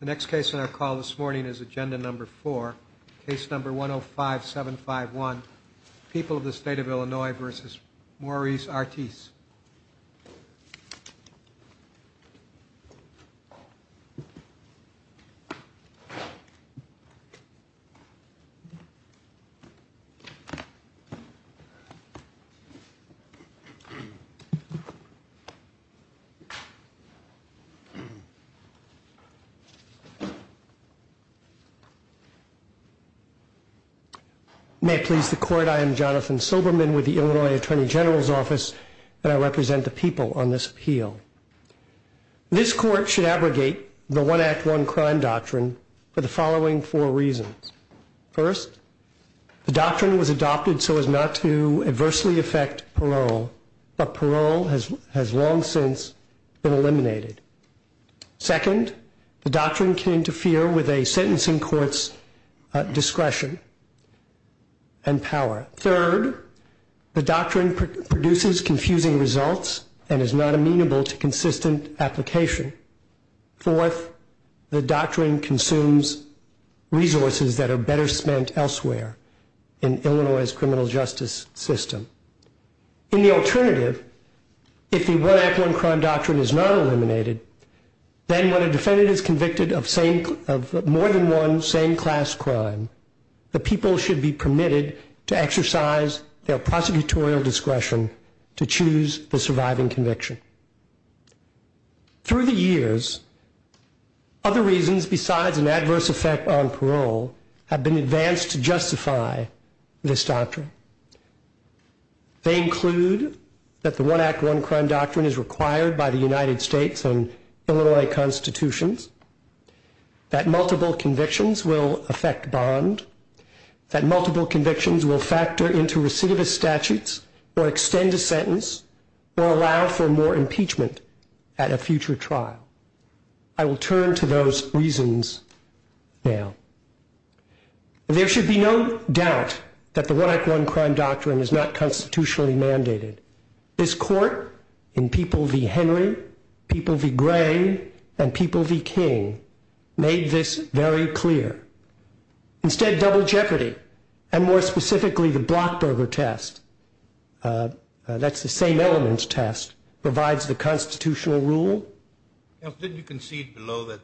The next case on our call this morning is agenda number four, case number 105751, People of the State of Illinois v. Maurice Artis. May it please the court, I am Jonathan Silberman with the Illinois Attorney General's Office and I represent the people on this appeal. This court should abrogate the One Act, One Crime doctrine for the following four reasons. First, the doctrine was adopted so as not to adversely affect parole, but parole has long since been eliminated. Second, the doctrine can interfere with a sentencing court's discretion and power. Third, the doctrine produces confusing results and is not amenable to consistent application. Fourth, the doctrine consumes resources that are better spent elsewhere in Illinois' criminal justice system. In the alternative, if the One Act, One Crime doctrine is not eliminated, then when a defendant is convicted of more than one same-class crime, the people should be permitted to exercise their prosecutorial discretion to choose the surviving conviction. Through the years, other reasons besides an adverse effect on parole have been advanced to justify this doctrine. They include that the One Act, One Crime doctrine is required by the United States and Illinois constitutions, that multiple convictions will affect bond, that multiple convictions will factor into recidivist statutes or extend a sentence or allow for more impeachment at a future trial. I will turn to those reasons now. There should be no doubt that the One Act, One Crime doctrine is not constitutionally mandated. This court in People v. Henry, People v. Gray, and People v. King made this very clear. Instead, double jeopardy, and more specifically the Blockberger test, that's the same element test, provides the constitutional rule. Counsel, didn't you concede below that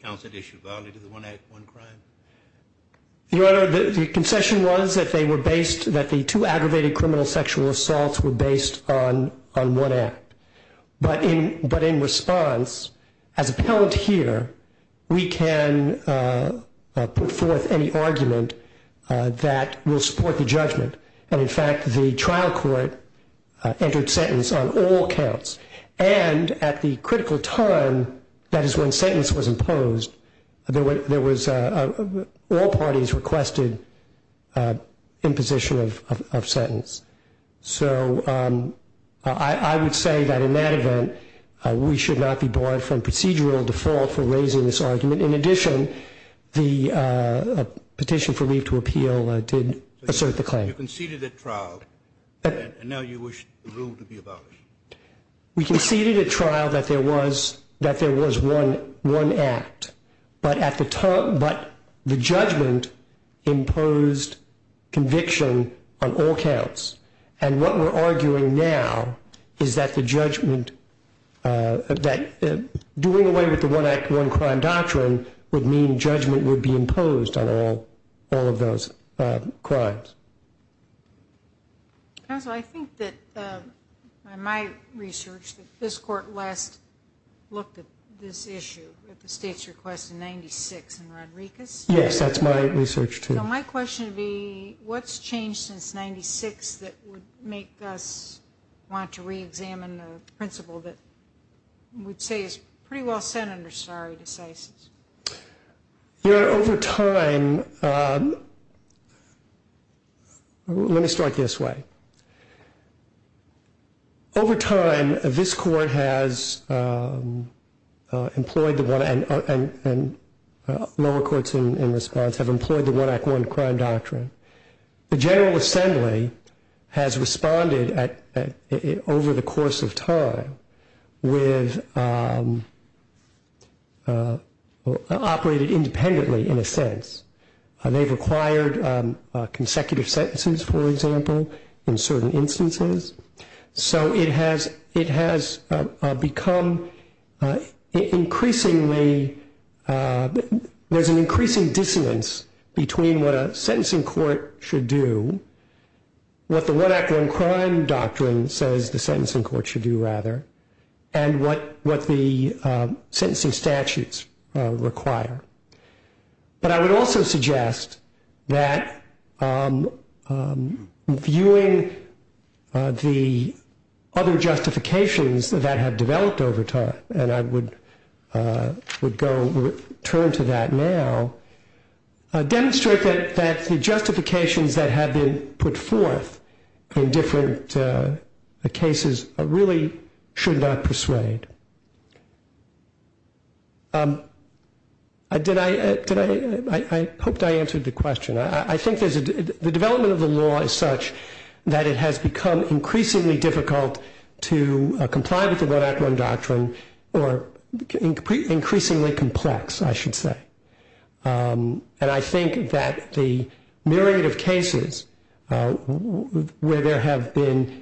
counsel had issued value to the One Act, One Crime? Your Honor, the concession was that they were based, that the two aggravated criminal sexual assaults were based on one act. But in response, as appellant here, we can put forth any argument that will support the judgment. And, in fact, the trial court entered sentence on all counts. And at the critical time, that is when sentence was imposed, all parties requested imposition of sentence. So I would say that in that event, we should not be barred from procedural default for raising this argument. In addition, the petition for leave to appeal did assert the claim. You conceded at trial, and now you wish the rule to be abolished. We conceded at trial that there was one act. But the judgment imposed conviction on all counts. And what we're arguing now is that the judgment, that doing away with the One Act, One Crime doctrine would mean judgment would be imposed on all of those crimes. Counsel, I think that, in my research, that this court last looked at this issue at the state's request in 96 in Rodriguez. Yes, that's my research, too. So my question would be, what's changed since 96 that would make us want to reexamine the principle that we'd say is pretty well set under stare decisis? Your Honor, over time, let me start this way. Over time, this court has employed the One Act, and lower courts in response have employed the One Act, One Crime doctrine. The General Assembly has responded over the course of time with operated independently, in a sense. They've required consecutive sentences, for example, in certain instances. So it has become increasingly, there's an increasing dissonance between what a sentencing court should do, what the One Act, One Crime doctrine says the sentencing court should do, rather, and what the sentencing statutes require. But I would also suggest that, viewing the other justifications that have developed over time, and I would turn to that now, demonstrate that the justifications that have been put forth in different cases really should not persuade. I hope I answered the question. I think the development of the law is such that it has become increasingly difficult to comply with the One Act, One Doctrine, or increasingly complex, I should say. And I think that the myriad of cases where there have been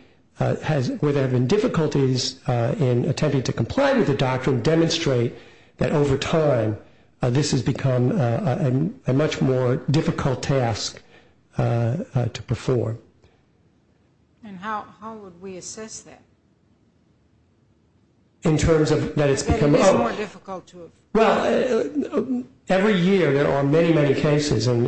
difficulties in attempting to comply with the doctrine, demonstrate that over time, this has become a much more difficult task to perform. And how would we assess that? That it's more difficult to... Well, every year there are many, many cases that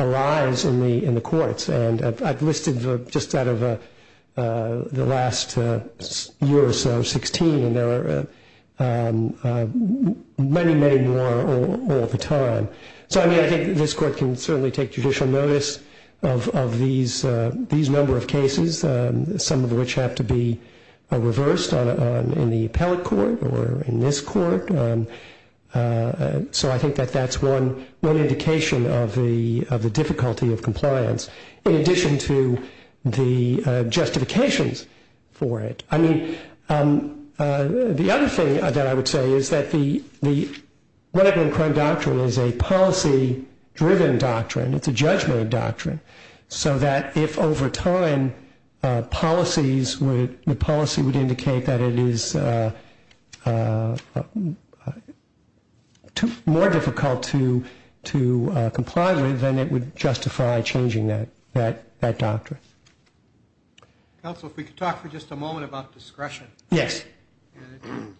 arise in the courts. And I've listed just out of the last year or so, 16, and there are many, many more all the time. So, I mean, I think this court can certainly take judicial notice of these number of cases, some of which have to be reversed in the appellate court or in this court. So I think that that's one indication of the difficulty of compliance, in addition to the justifications for it. I mean, the other thing that I would say is that the One Act, One Doctrine is a policy-driven doctrine. It's a judgmental doctrine. So that if over time, the policy would indicate that it is more difficult to comply with, then it would justify changing that doctrine. Counsel, if we could talk for just a moment about discretion. Yes.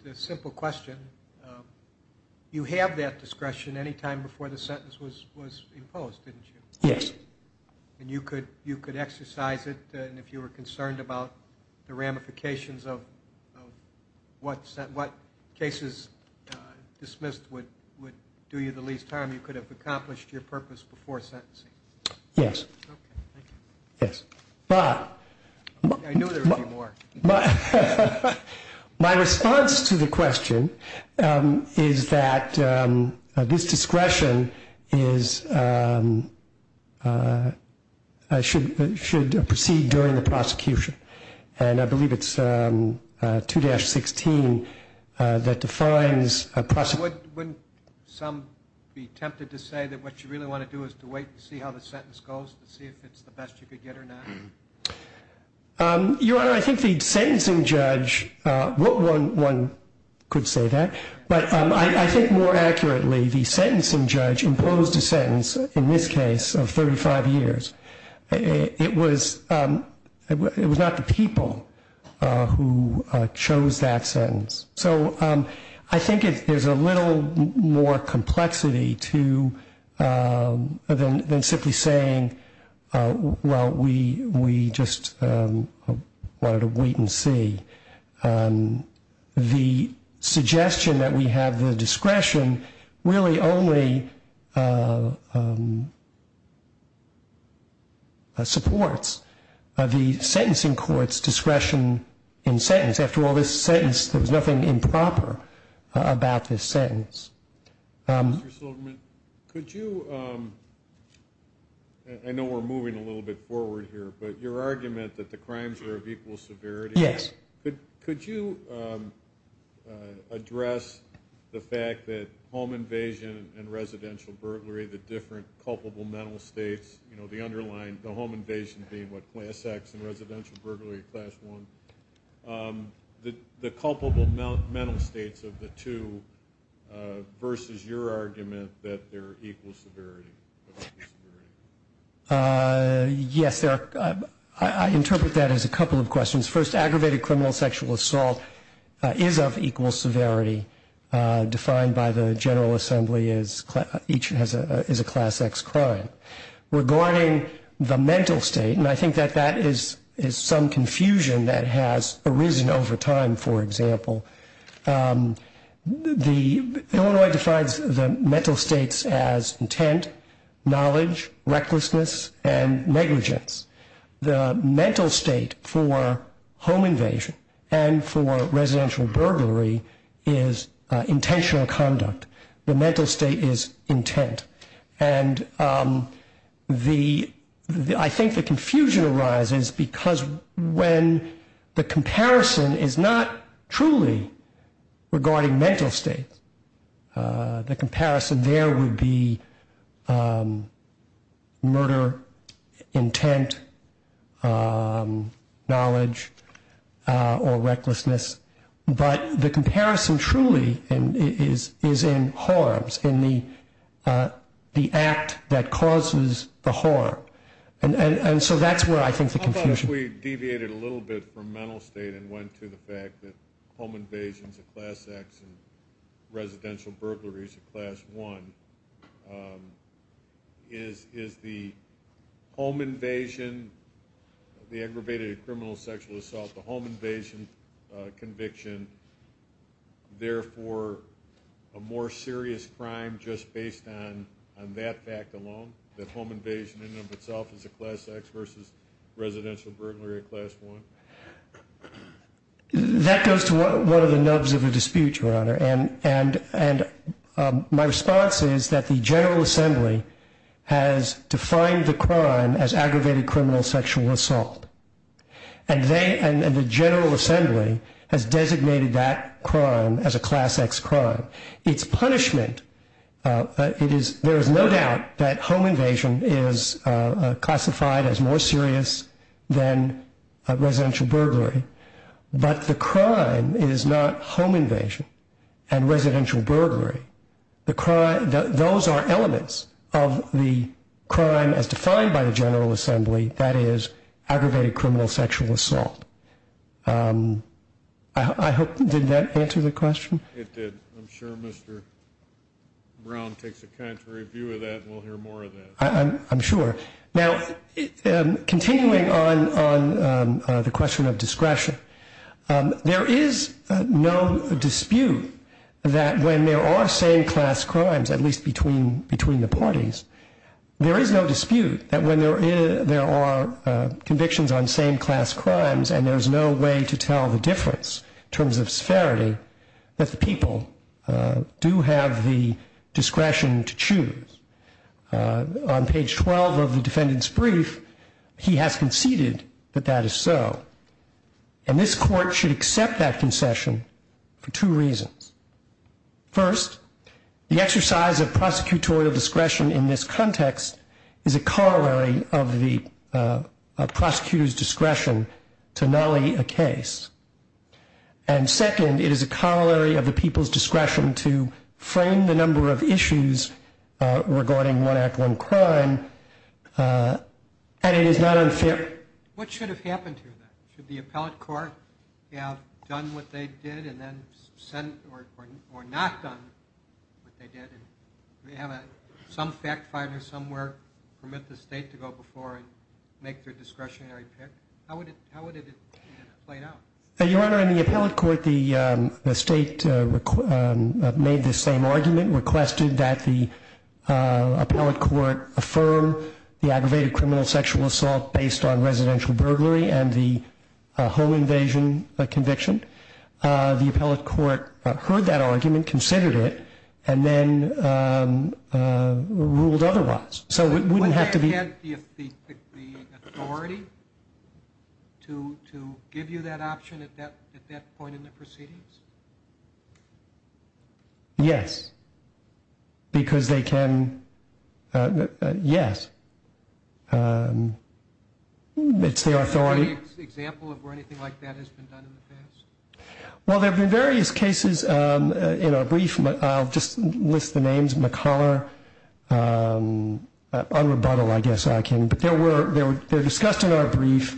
It's a simple question. You have that discretion any time before the sentence was imposed, didn't you? Yes. And you could exercise it, and if you were concerned about the ramifications of what cases dismissed would do you the least harm, you could have accomplished your purpose before sentencing. Yes. Okay. Thank you. Yes. Bob. I knew there would be more. My response to the question is that this discretion should proceed during the prosecution. And I believe it's 2-16 that defines prosecution. Wouldn't some be tempted to say that what you really want to do is to wait and see how the sentence goes, to see if it's the best you could get or not? Your Honor, I think the sentencing judge, one could say that, but I think more accurately the sentencing judge imposed a sentence, in this case, of 35 years. It was not the people who chose that sentence. So I think there's a little more complexity than simply saying, well, we just wanted to wait and see. The suggestion that we have the discretion really only supports the sentencing court's discretion in sentence. After all, this sentence, there's nothing improper about this sentence. Mr. Silverman, could you, I know we're moving a little bit forward here, but your argument that the crimes are of equal severity. Yes. Could you address the fact that home invasion and residential burglary, the different culpable mental states, the home invasion being what, class X and residential burglary, class I, the culpable mental states of the two versus your argument that they're equal severity? Yes. I interpret that as a couple of questions. First, aggravated criminal sexual assault is of equal severity, defined by the General Assembly as each is a class X crime. Regarding the mental state, and I think that that is some confusion that has arisen over time, for example. Illinois defines the mental states as intent, knowledge, recklessness, and negligence. The mental state for home invasion and for residential burglary is intentional conduct. The mental state is intent. And I think the confusion arises because when the comparison is not truly regarding mental states, the comparison there would be murder, intent, knowledge, or recklessness. But the comparison truly is in harms, in the act that causes the harm. And so that's where I think the confusion is. You deviated a little bit from mental state and went to the fact that home invasion is a class X and residential burglary is a class I. Is the home invasion, the aggravated criminal sexual assault, the home invasion conviction, therefore a more serious crime just based on that fact alone, that home invasion in and of itself is a class X versus residential burglary, a class I? That goes to one of the nubs of a dispute, Your Honor. And my response is that the General Assembly has defined the crime as aggravated criminal sexual assault. And the General Assembly has designated that crime as a class X crime. Its punishment, there is no doubt that home invasion is classified as more serious than residential burglary. But the crime is not home invasion and residential burglary. Those are elements of the crime as defined by the General Assembly, that is, aggravated criminal sexual assault. I hope, did that answer the question? It did. I'm sure Mr. Brown takes a contrary view of that and we'll hear more of that. I'm sure. Now, continuing on the question of discretion, there is no dispute that when there are same-class crimes, at least between the parties, there is no dispute that when there are convictions on same-class crimes and there is no way to tell the difference in terms of severity that the people do have the discretion to choose. On page 12 of the defendant's brief, he has conceded that that is so. And this Court should accept that concession for two reasons. First, the exercise of prosecutorial discretion in this context is a corollary of the prosecutor's discretion to nully a case. And second, it is a corollary of the people's discretion to frame the number of issues regarding one act, one crime, and it is not unfair. What should have happened here then? Should the appellate court have done what they did or not done what they did and have some fact finder somewhere permit the State to go before and make their discretionary pick? How would it have played out? Your Honor, in the appellate court, the State made the same argument, requested that the appellate court affirm the aggravated criminal sexual assault based on residential burglary and the whole invasion conviction. The appellate court heard that argument, considered it, and then ruled otherwise. So it wouldn't have to be... Would they have had the authority to give you that option at that point in the proceedings? Yes. Because they can... Yes. It's their authority. Is there any example of where anything like that has been done in the past? Well, there have been various cases in our brief, but I'll just list the names. McCollar, Unrebuttal, I guess I can. But they're discussed in our brief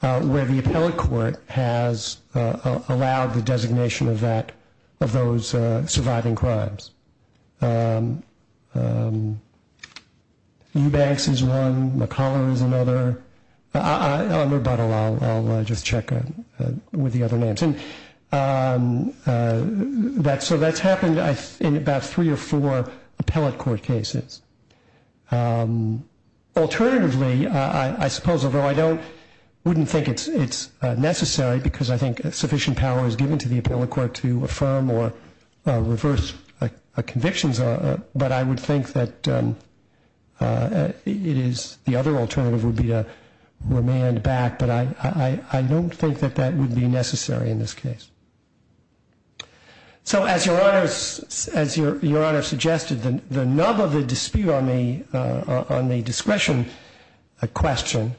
where the appellate court has allowed the designation of those surviving crimes. Eubanks is one. McCollar is another. Unrebuttal, I'll just check with the other names. So that's happened in about three or four appellate court cases. Alternatively, I suppose, although I wouldn't think it's necessary because I think sufficient power is given to the appellate court to affirm or reverse convictions, but I would think that it is... The other alternative would be to remand back, but I don't think that that would be necessary in this case. So as Your Honor suggested, the nub of the dispute on the discretion question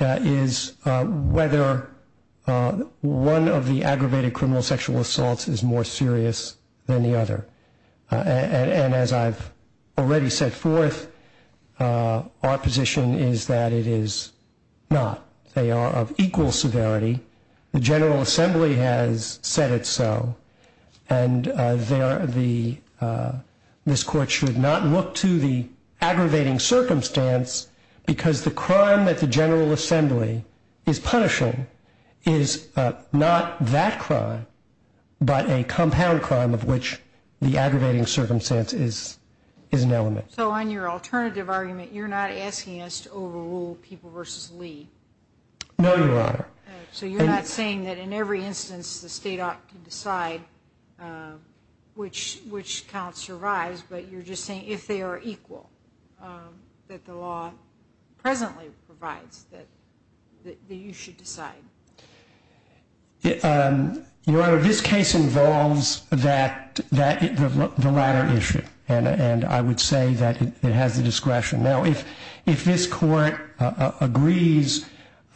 is whether one of the aggravated criminal sexual assaults is more serious than the other. And as I've already set forth, our position is that it is not. They are of equal severity. The General Assembly has said it's so. And this Court should not look to the aggravating circumstance because the crime that the General Assembly is punishing is not that crime, but a compound crime of which the aggravating circumstance is an element. So on your alternative argument, you're not asking us to overrule People v. Lee? No, Your Honor. So you're not saying that in every instance the State ought to decide which count survives, but you're just saying if they are equal that the law presently provides that you should decide? Your Honor, this case involves the latter issue, and I would say that it has the discretion. Now, if this Court agrees,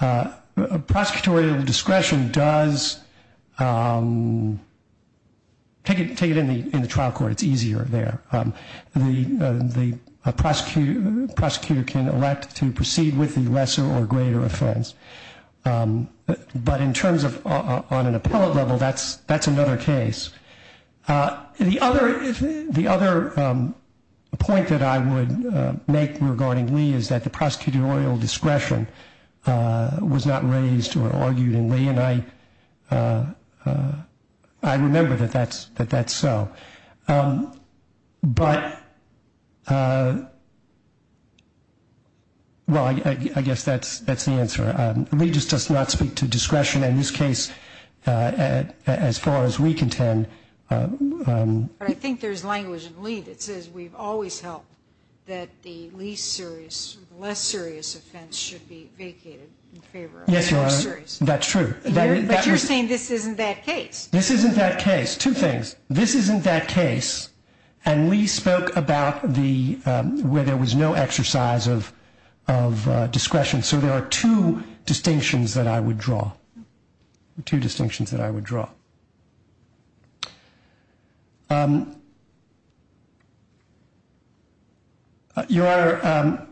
prosecutorial discretion does take it in the trial court. It's easier there. The prosecutor can elect to proceed with the lesser or greater offense. But in terms of on an appellate level, that's another case. The other point that I would make regarding Lee is that the prosecutorial discretion was not raised or argued in Lee, and I remember that that's so. But, well, I guess that's the answer. Lee just does not speak to discretion in this case as far as we contend. But I think there's language in Lee that says we've always held that the least serious or the less serious offense should be vacated in favor of the more serious. Yes, Your Honor, that's true. But you're saying this isn't that case. This isn't that case. Two things. This isn't that case, and Lee spoke about where there was no exercise of discretion. So there are two distinctions that I would draw. Two distinctions that I would draw. Your Honor,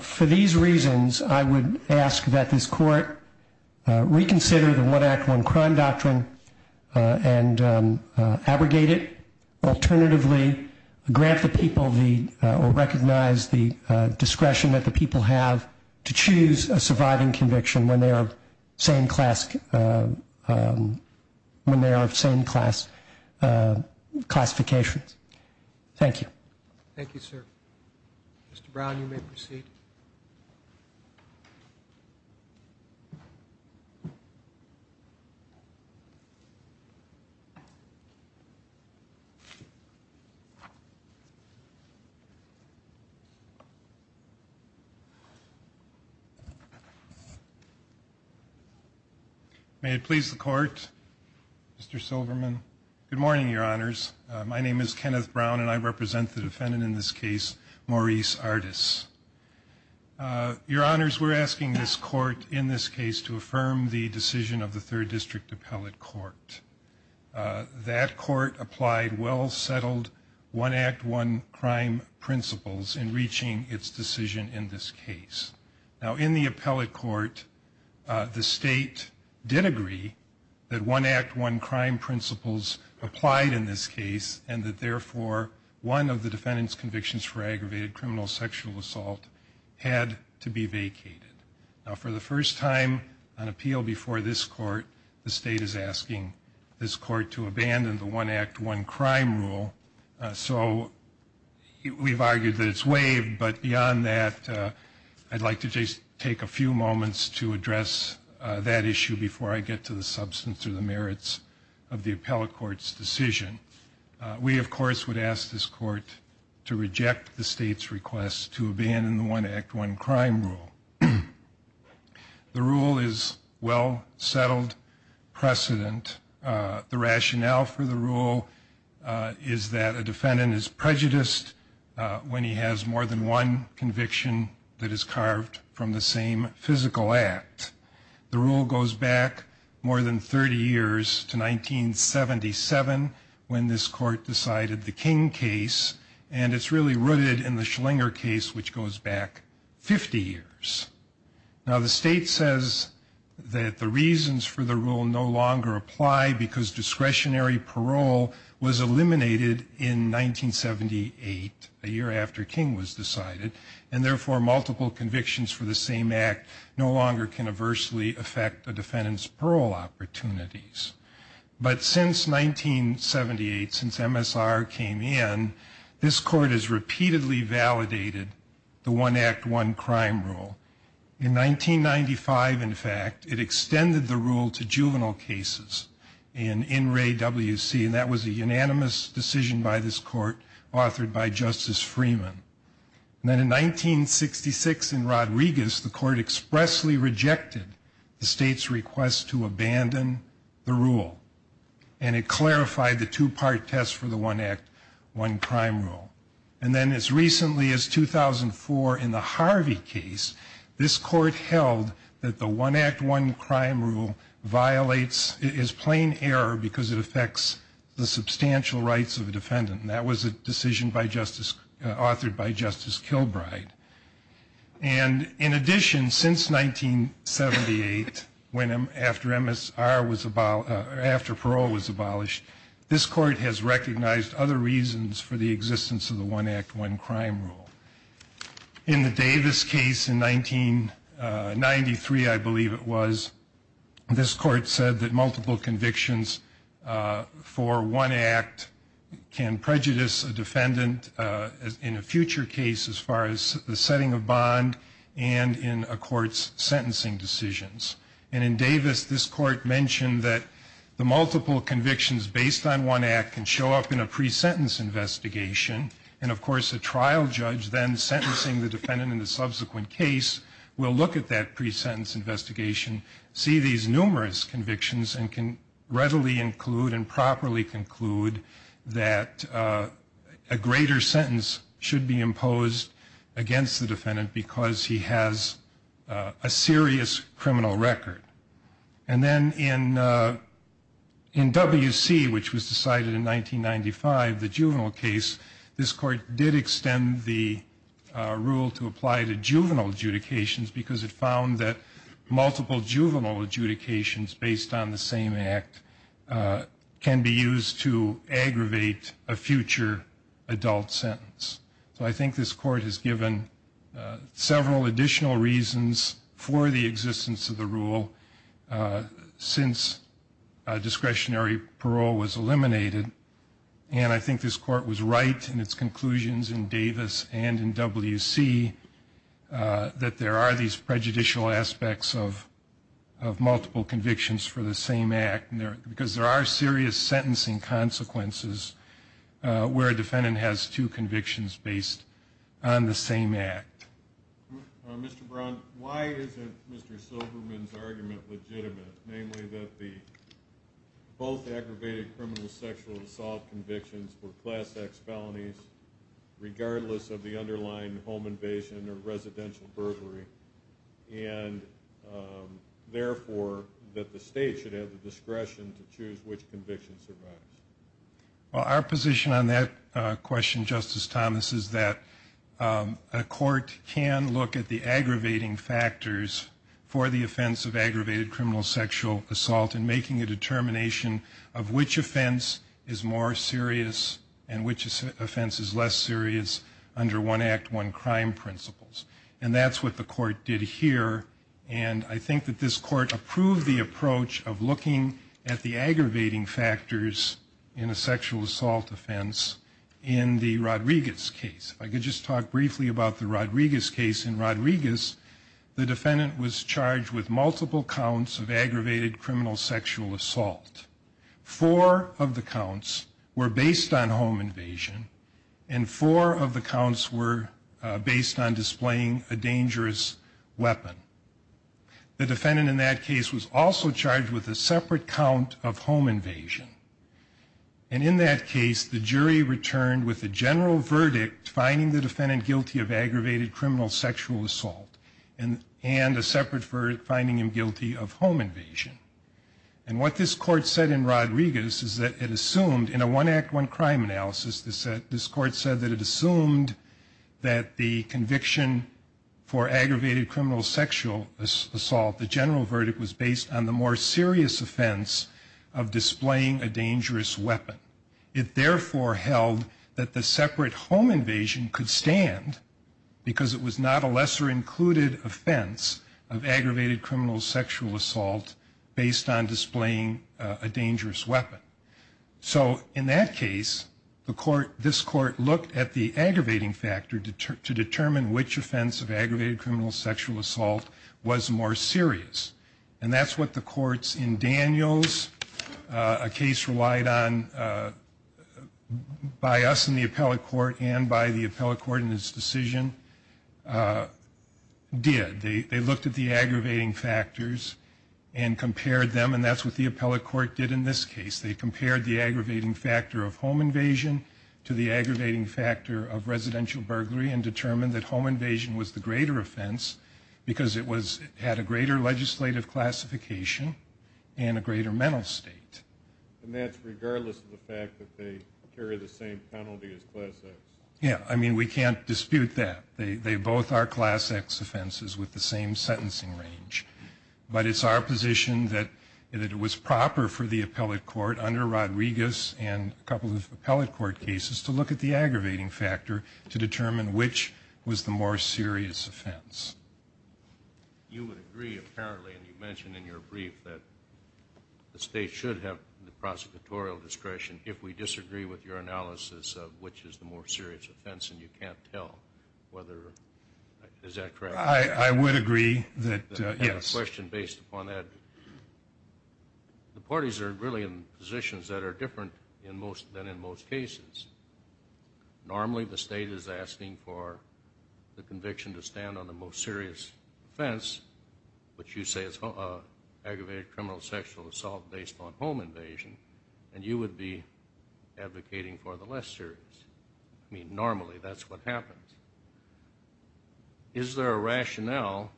for these reasons, I would ask that this Court reconsider the One Act, One Crime doctrine and abrogate it alternatively, grant the people the or recognize the discretion that the people have to choose a surviving conviction when they are of same class classifications. Thank you. Thank you, sir. Mr. Brown, you may proceed. May it please the Court. Mr. Silverman. Good morning, Your Honors. My name is Kenneth Brown, and I represent the defendant in this case, Maurice Artis. Your Honors, we're asking this Court in this case to affirm the decision of the Third District Appellate Court. That court applied well-settled One Act, One Crime principles in reaching its decision in this case. Now, in the Appellate Court, the State did agree that One Act, One Crime principles applied in this case and that, therefore, one of the defendant's convictions for aggravated criminal sexual assault had to be vacated. Now, for the first time on appeal before this Court, the State is asking this Court to abandon the One Act, One Crime rule. So we've argued that it's waived, but beyond that, I'd like to just take a few moments to address that issue before I get to the substance or the merits of the Appellate Court's decision. We, of course, would ask this Court to reject the State's request to abandon the One Act, One Crime rule. The rule is well-settled precedent. The rationale for the rule is that a defendant is prejudiced when he has more than one conviction that is carved from the same physical act. The rule goes back more than 30 years to 1977 when this Court decided the King case, and it's really rooted in the Schlinger case, which goes back 50 years. Now, the State says that the reasons for the rule no longer apply because discretionary parole was eliminated in 1978, a year after King was decided, and therefore multiple convictions for the same act no longer can adversely affect a defendant's parole opportunities. But since 1978, since MSR came in, this Court has repeatedly validated the One Act, One Crime rule. In 1995, in fact, it extended the rule to juvenile cases in In Re, W.C., and that was a unanimous decision by this Court authored by Justice Freeman. And then in 1966 in Rodriguez, the Court expressly rejected the State's request to abandon the rule, and it clarified the two-part test for the One Act, One Crime rule. And then as recently as 2004 in the Harvey case, this Court held that the One Act, One Crime rule violates, is plain error because it affects the substantial rights of a defendant, and that was a decision authored by Justice Kilbride. And in addition, since 1978, after parole was abolished, this Court has recognized other reasons for the existence of the One Act, One Crime rule. In the Davis case in 1993, I believe it was, this Court said that multiple convictions for one act can prejudice a defendant in a future case as far as the setting of bond and in a court's sentencing decisions. And in Davis, this Court mentioned that the multiple convictions based on one act can show up in a pre-sentence investigation, and of course a trial judge then sentencing the defendant in the subsequent case will look at that pre-sentence investigation, see these numerous convictions, and can readily include and properly conclude that a greater sentence should be imposed against the defendant because he has a serious criminal record. And then in W.C., which was decided in 1995, the juvenile case, this Court did extend the rule to apply to juvenile adjudications because it found that multiple juvenile adjudications based on the same act can be used to aggravate a future adult sentence. So I think this Court has given several additional reasons for the existence of the rule since discretionary parole was eliminated, and I think this Court was right in its conclusions in Davis and in W.C. that there are these prejudicial aspects of multiple convictions for the same act because there are serious sentencing consequences where a defendant has two convictions based on the same act. Mr. Brown, why isn't Mr. Silverman's argument legitimate, namely that both aggravated criminal sexual assault convictions were Class X felonies regardless of the underlying home invasion or residential burglary, and therefore that the state should have the discretion to choose which conviction survives? Well, our position on that question, Justice Thomas, is that a court can look at the aggravating factors for the offense of aggravated criminal sexual assault in making a determination of which offense is more serious and which offense is less serious under one act, one crime principles. And that's what the Court did here, and I think that this Court approved the approach of looking at the aggravating factors in a sexual assault offense in the Rodriguez case. If I could just talk briefly about the Rodriguez case. In Rodriguez, the defendant was charged with multiple counts of aggravated criminal sexual assault. Four of the counts were based on home invasion, and four of the counts were based on displaying a dangerous weapon. The defendant in that case was also charged with a separate count of home invasion. And in that case, the jury returned with a general verdict finding the defendant guilty of aggravated criminal sexual assault and a separate verdict finding him guilty of home invasion. In a one act, one crime analysis, this Court said that it assumed that the conviction for aggravated criminal sexual assault, the general verdict was based on the more serious offense of displaying a dangerous weapon. It therefore held that the separate home invasion could stand because it was not a lesser included offense of aggravated criminal sexual assault based on displaying a dangerous weapon. So in that case, this Court looked at the aggravating factor to determine which offense of aggravated criminal sexual assault was more serious. And that's what the courts in Daniels, a case relied on by us in the appellate court and by the appellate court in this decision, did. They looked at the aggravating factors and compared them, and that's what the appellate court did in this case. They compared the aggravating factor of home invasion to the aggravating factor of residential burglary and determined that home invasion was the greater offense because it had a greater legislative classification and a greater mental state. And that's regardless of the fact that they carry the same penalty as Class X. Yeah, I mean, we can't dispute that. They both are Class X offenses with the same sentencing range. But it's our position that it was proper for the appellate court under Rodriguez and a couple of appellate court cases to look at the aggravating factor to determine which was the more serious offense. You would agree apparently, and you mentioned in your brief, that the state should have the prosecutorial discretion if we disagree with your analysis of which is the more serious offense and you can't tell whether, is that correct? I would agree that, yes. I have a question based upon that. The parties are really in positions that are different than in most cases. Normally the state is asking for the conviction to stand on the most serious offense, which you say is aggravated criminal sexual assault based on home invasion, and you would be advocating for the less serious. I mean, normally that's what happens. Is there a rationale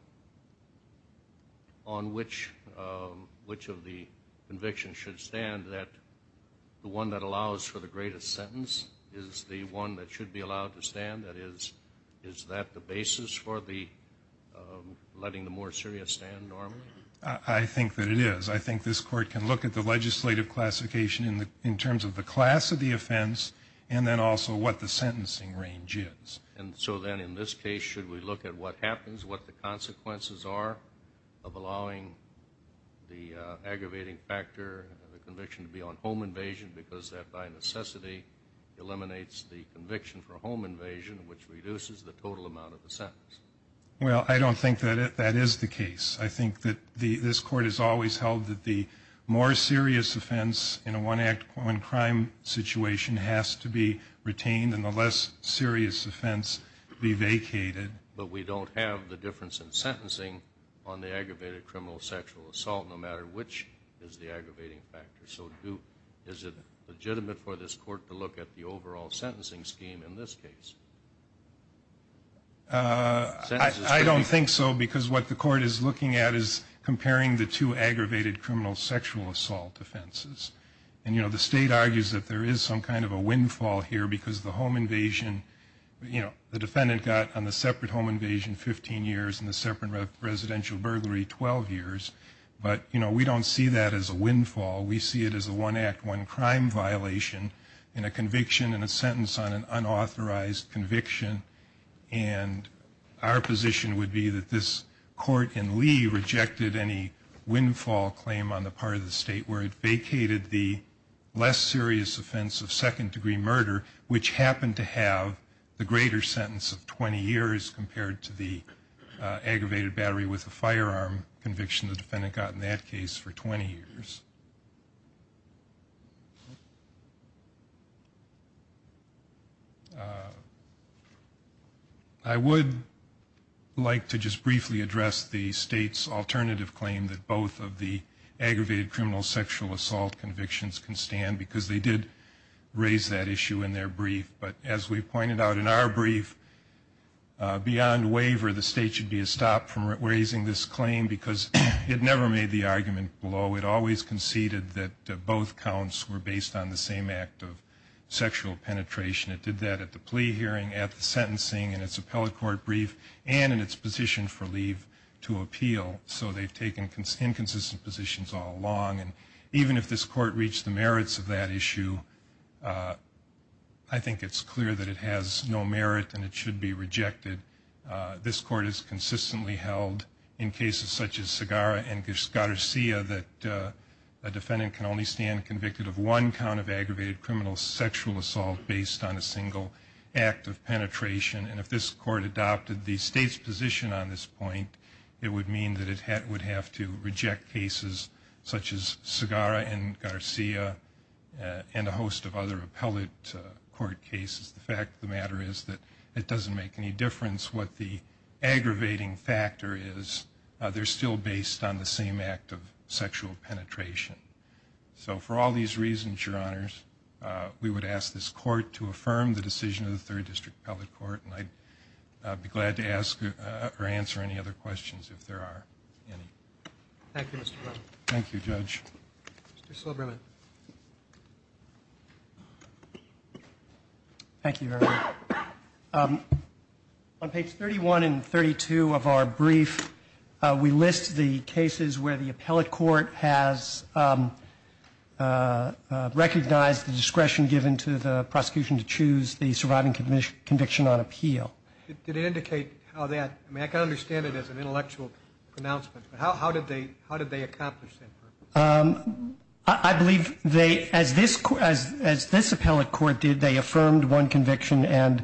on which of the convictions should stand that the one that allows for the greatest sentence is the one that should be allowed to stand? That is, is that the basis for letting the more serious stand normally? I think that it is. I think this court can look at the legislative classification in terms of the class of the offense and then also what the sentencing range is. And so then in this case, should we look at what happens, what the consequences are of allowing the aggravating factor, the conviction to be on home invasion because that by necessity eliminates the conviction for home invasion, which reduces the total amount of the sentence? Well, I don't think that that is the case. I think that this court has always held that the more serious offense in a one-act crime situation has to be retained and the less serious offense be vacated. But we don't have the difference in sentencing on the aggravated criminal sexual assault, no matter which is the aggravating factor. So is it legitimate for this court to look at the overall sentencing scheme in this case? I don't think so because what the court is looking at is comparing the two aggravated criminal sexual assault offenses. And, you know, the state argues that there is some kind of a windfall here because the home invasion, you know, the defendant got on the separate home invasion 15 years and the separate residential burglary 12 years. But, you know, we don't see that as a windfall. We see it as a one-act, one-crime violation in a conviction and a sentence on an unauthorized conviction. And our position would be that this court in Lee rejected any windfall claim on the part of the state where it vacated the less serious offense of second-degree murder, which happened to have the greater sentence of 20 years compared to the aggravated battery with a firearm conviction the defendant got in that case for 20 years. I would like to just briefly address the state's alternative claim that both of the aggravated criminal sexual assault convictions can stand because they did raise that issue in their brief. But as we pointed out in our brief, beyond waiver, the state should be stopped from raising this claim because it never made the argument below. It always conceded that both counts were based on the same act of sexual penetration. It did that at the plea hearing, at the sentencing, in its appellate court brief, and in its position for leave to appeal. So they've taken inconsistent positions all along. And even if this court reached the merits of that issue, I think it's clear that it has no merit and it should be rejected. This court has consistently held in cases such as Segarra and Garcia that a defendant can only stand convicted of one count of aggravated criminal sexual assault based on a single act of penetration. And if this court adopted the state's position on this point, it would mean that it would have to reject cases such as Segarra and Garcia and a host of other appellate court cases. The fact of the matter is that it doesn't make any difference what the aggravating factor is. They're still based on the same act of sexual penetration. So for all these reasons, Your Honors, we would ask this court to affirm the decision of the Third District Appellate Court. And I'd be glad to ask or answer any other questions if there are any. Thank you, Mr. Brown. Thank you, Judge. Mr. Silberman. Thank you, Your Honor. On pages 31 and 32 of our brief, we list the cases where the appellate court has recognized the discretion given to the prosecution to choose the surviving conviction on appeal. Did it indicate how that ñ I mean, I can understand it as an intellectual pronouncement, but how did they accomplish that? I believe they, as this appellate court did, they affirmed one conviction and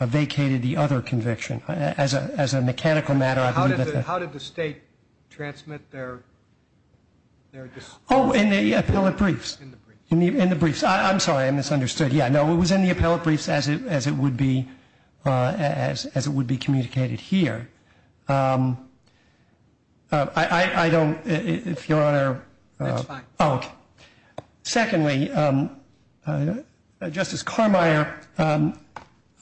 vacated the other conviction. As a mechanical matter, I believe that the ñ How did the State transmit their ñ Oh, in the appellate briefs. In the briefs. In the briefs. I'm sorry, I misunderstood. Yeah, no, it was in the appellate briefs as it would be communicated here. I don't ñ if Your Honor ñ That's fine. Secondly, Justice Carmeier,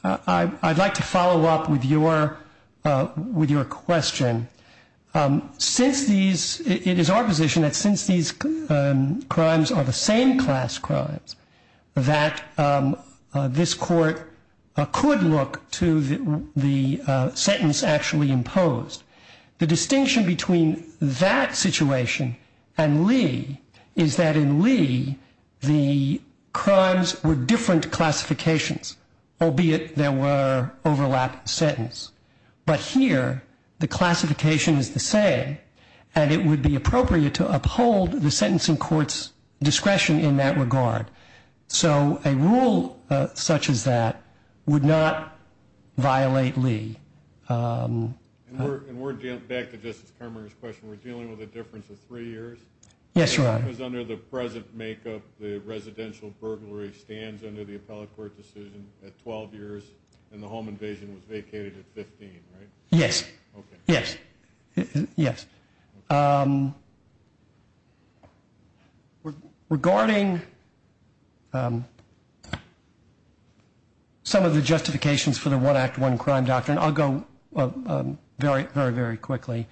I'd like to follow up with your question. Since these ñ it is our position that since these crimes are the same class crimes, that this court could look to the sentence actually imposed. The distinction between that situation and Lee is that in Lee, the crimes were different classifications, albeit there were overlap sentence. But here, the classification is the same, and it would be appropriate to uphold the sentencing court's discretion in that regard. So a rule such as that would not violate Lee. And we're ñ back to Justice Carmeier's question. We're dealing with a difference of three years? Yes, Your Honor. Because under the present makeup, the residential burglary stands under the appellate court decision at 12 years, and the home invasion was vacated at 15, right? Yes. Okay. Yes. Yes. Okay. Regarding some of the justifications for the one act, one crime doctrine, I'll go very, very, very quickly.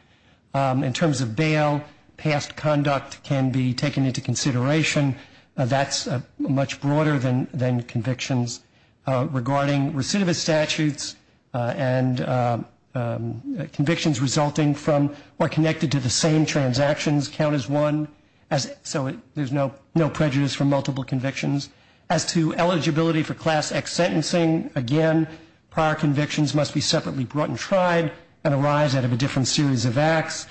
In terms of bail, past conduct can be taken into consideration. That's much broader than convictions. Regarding recidivist statutes and convictions resulting from or connected to the same transactions count as one, so there's no prejudice for multiple convictions. As to eligibility for Class X sentencing, again, prior convictions must be separately brought and tried and arise out of a different series of acts.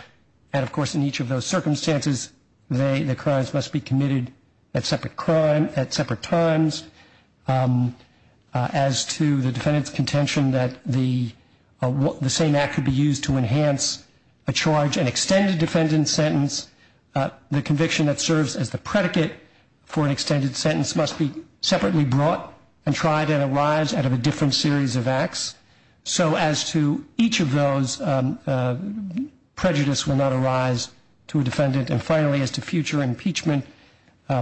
And, of course, in each of those circumstances, the crimes must be committed at separate times. As to the defendant's contention that the same act could be used to enhance a charge, an extended defendant's sentence, the conviction that serves as the predicate for an extended sentence must be separately brought and tried and arise out of a different series of acts. So as to each of those, prejudice will not arise to a defendant. And, finally, as to future impeachment,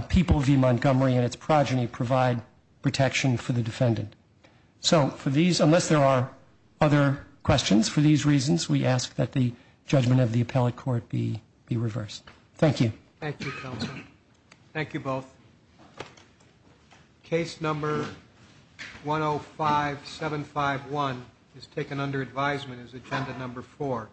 people v. Montgomery and its progeny provide protection for the defendant. So for these, unless there are other questions for these reasons, we ask that the judgment of the appellate court be reversed. Thank you. Thank you, counsel. Thank you both. Case Number 105751 is taken under advisement as Agenda Number 4.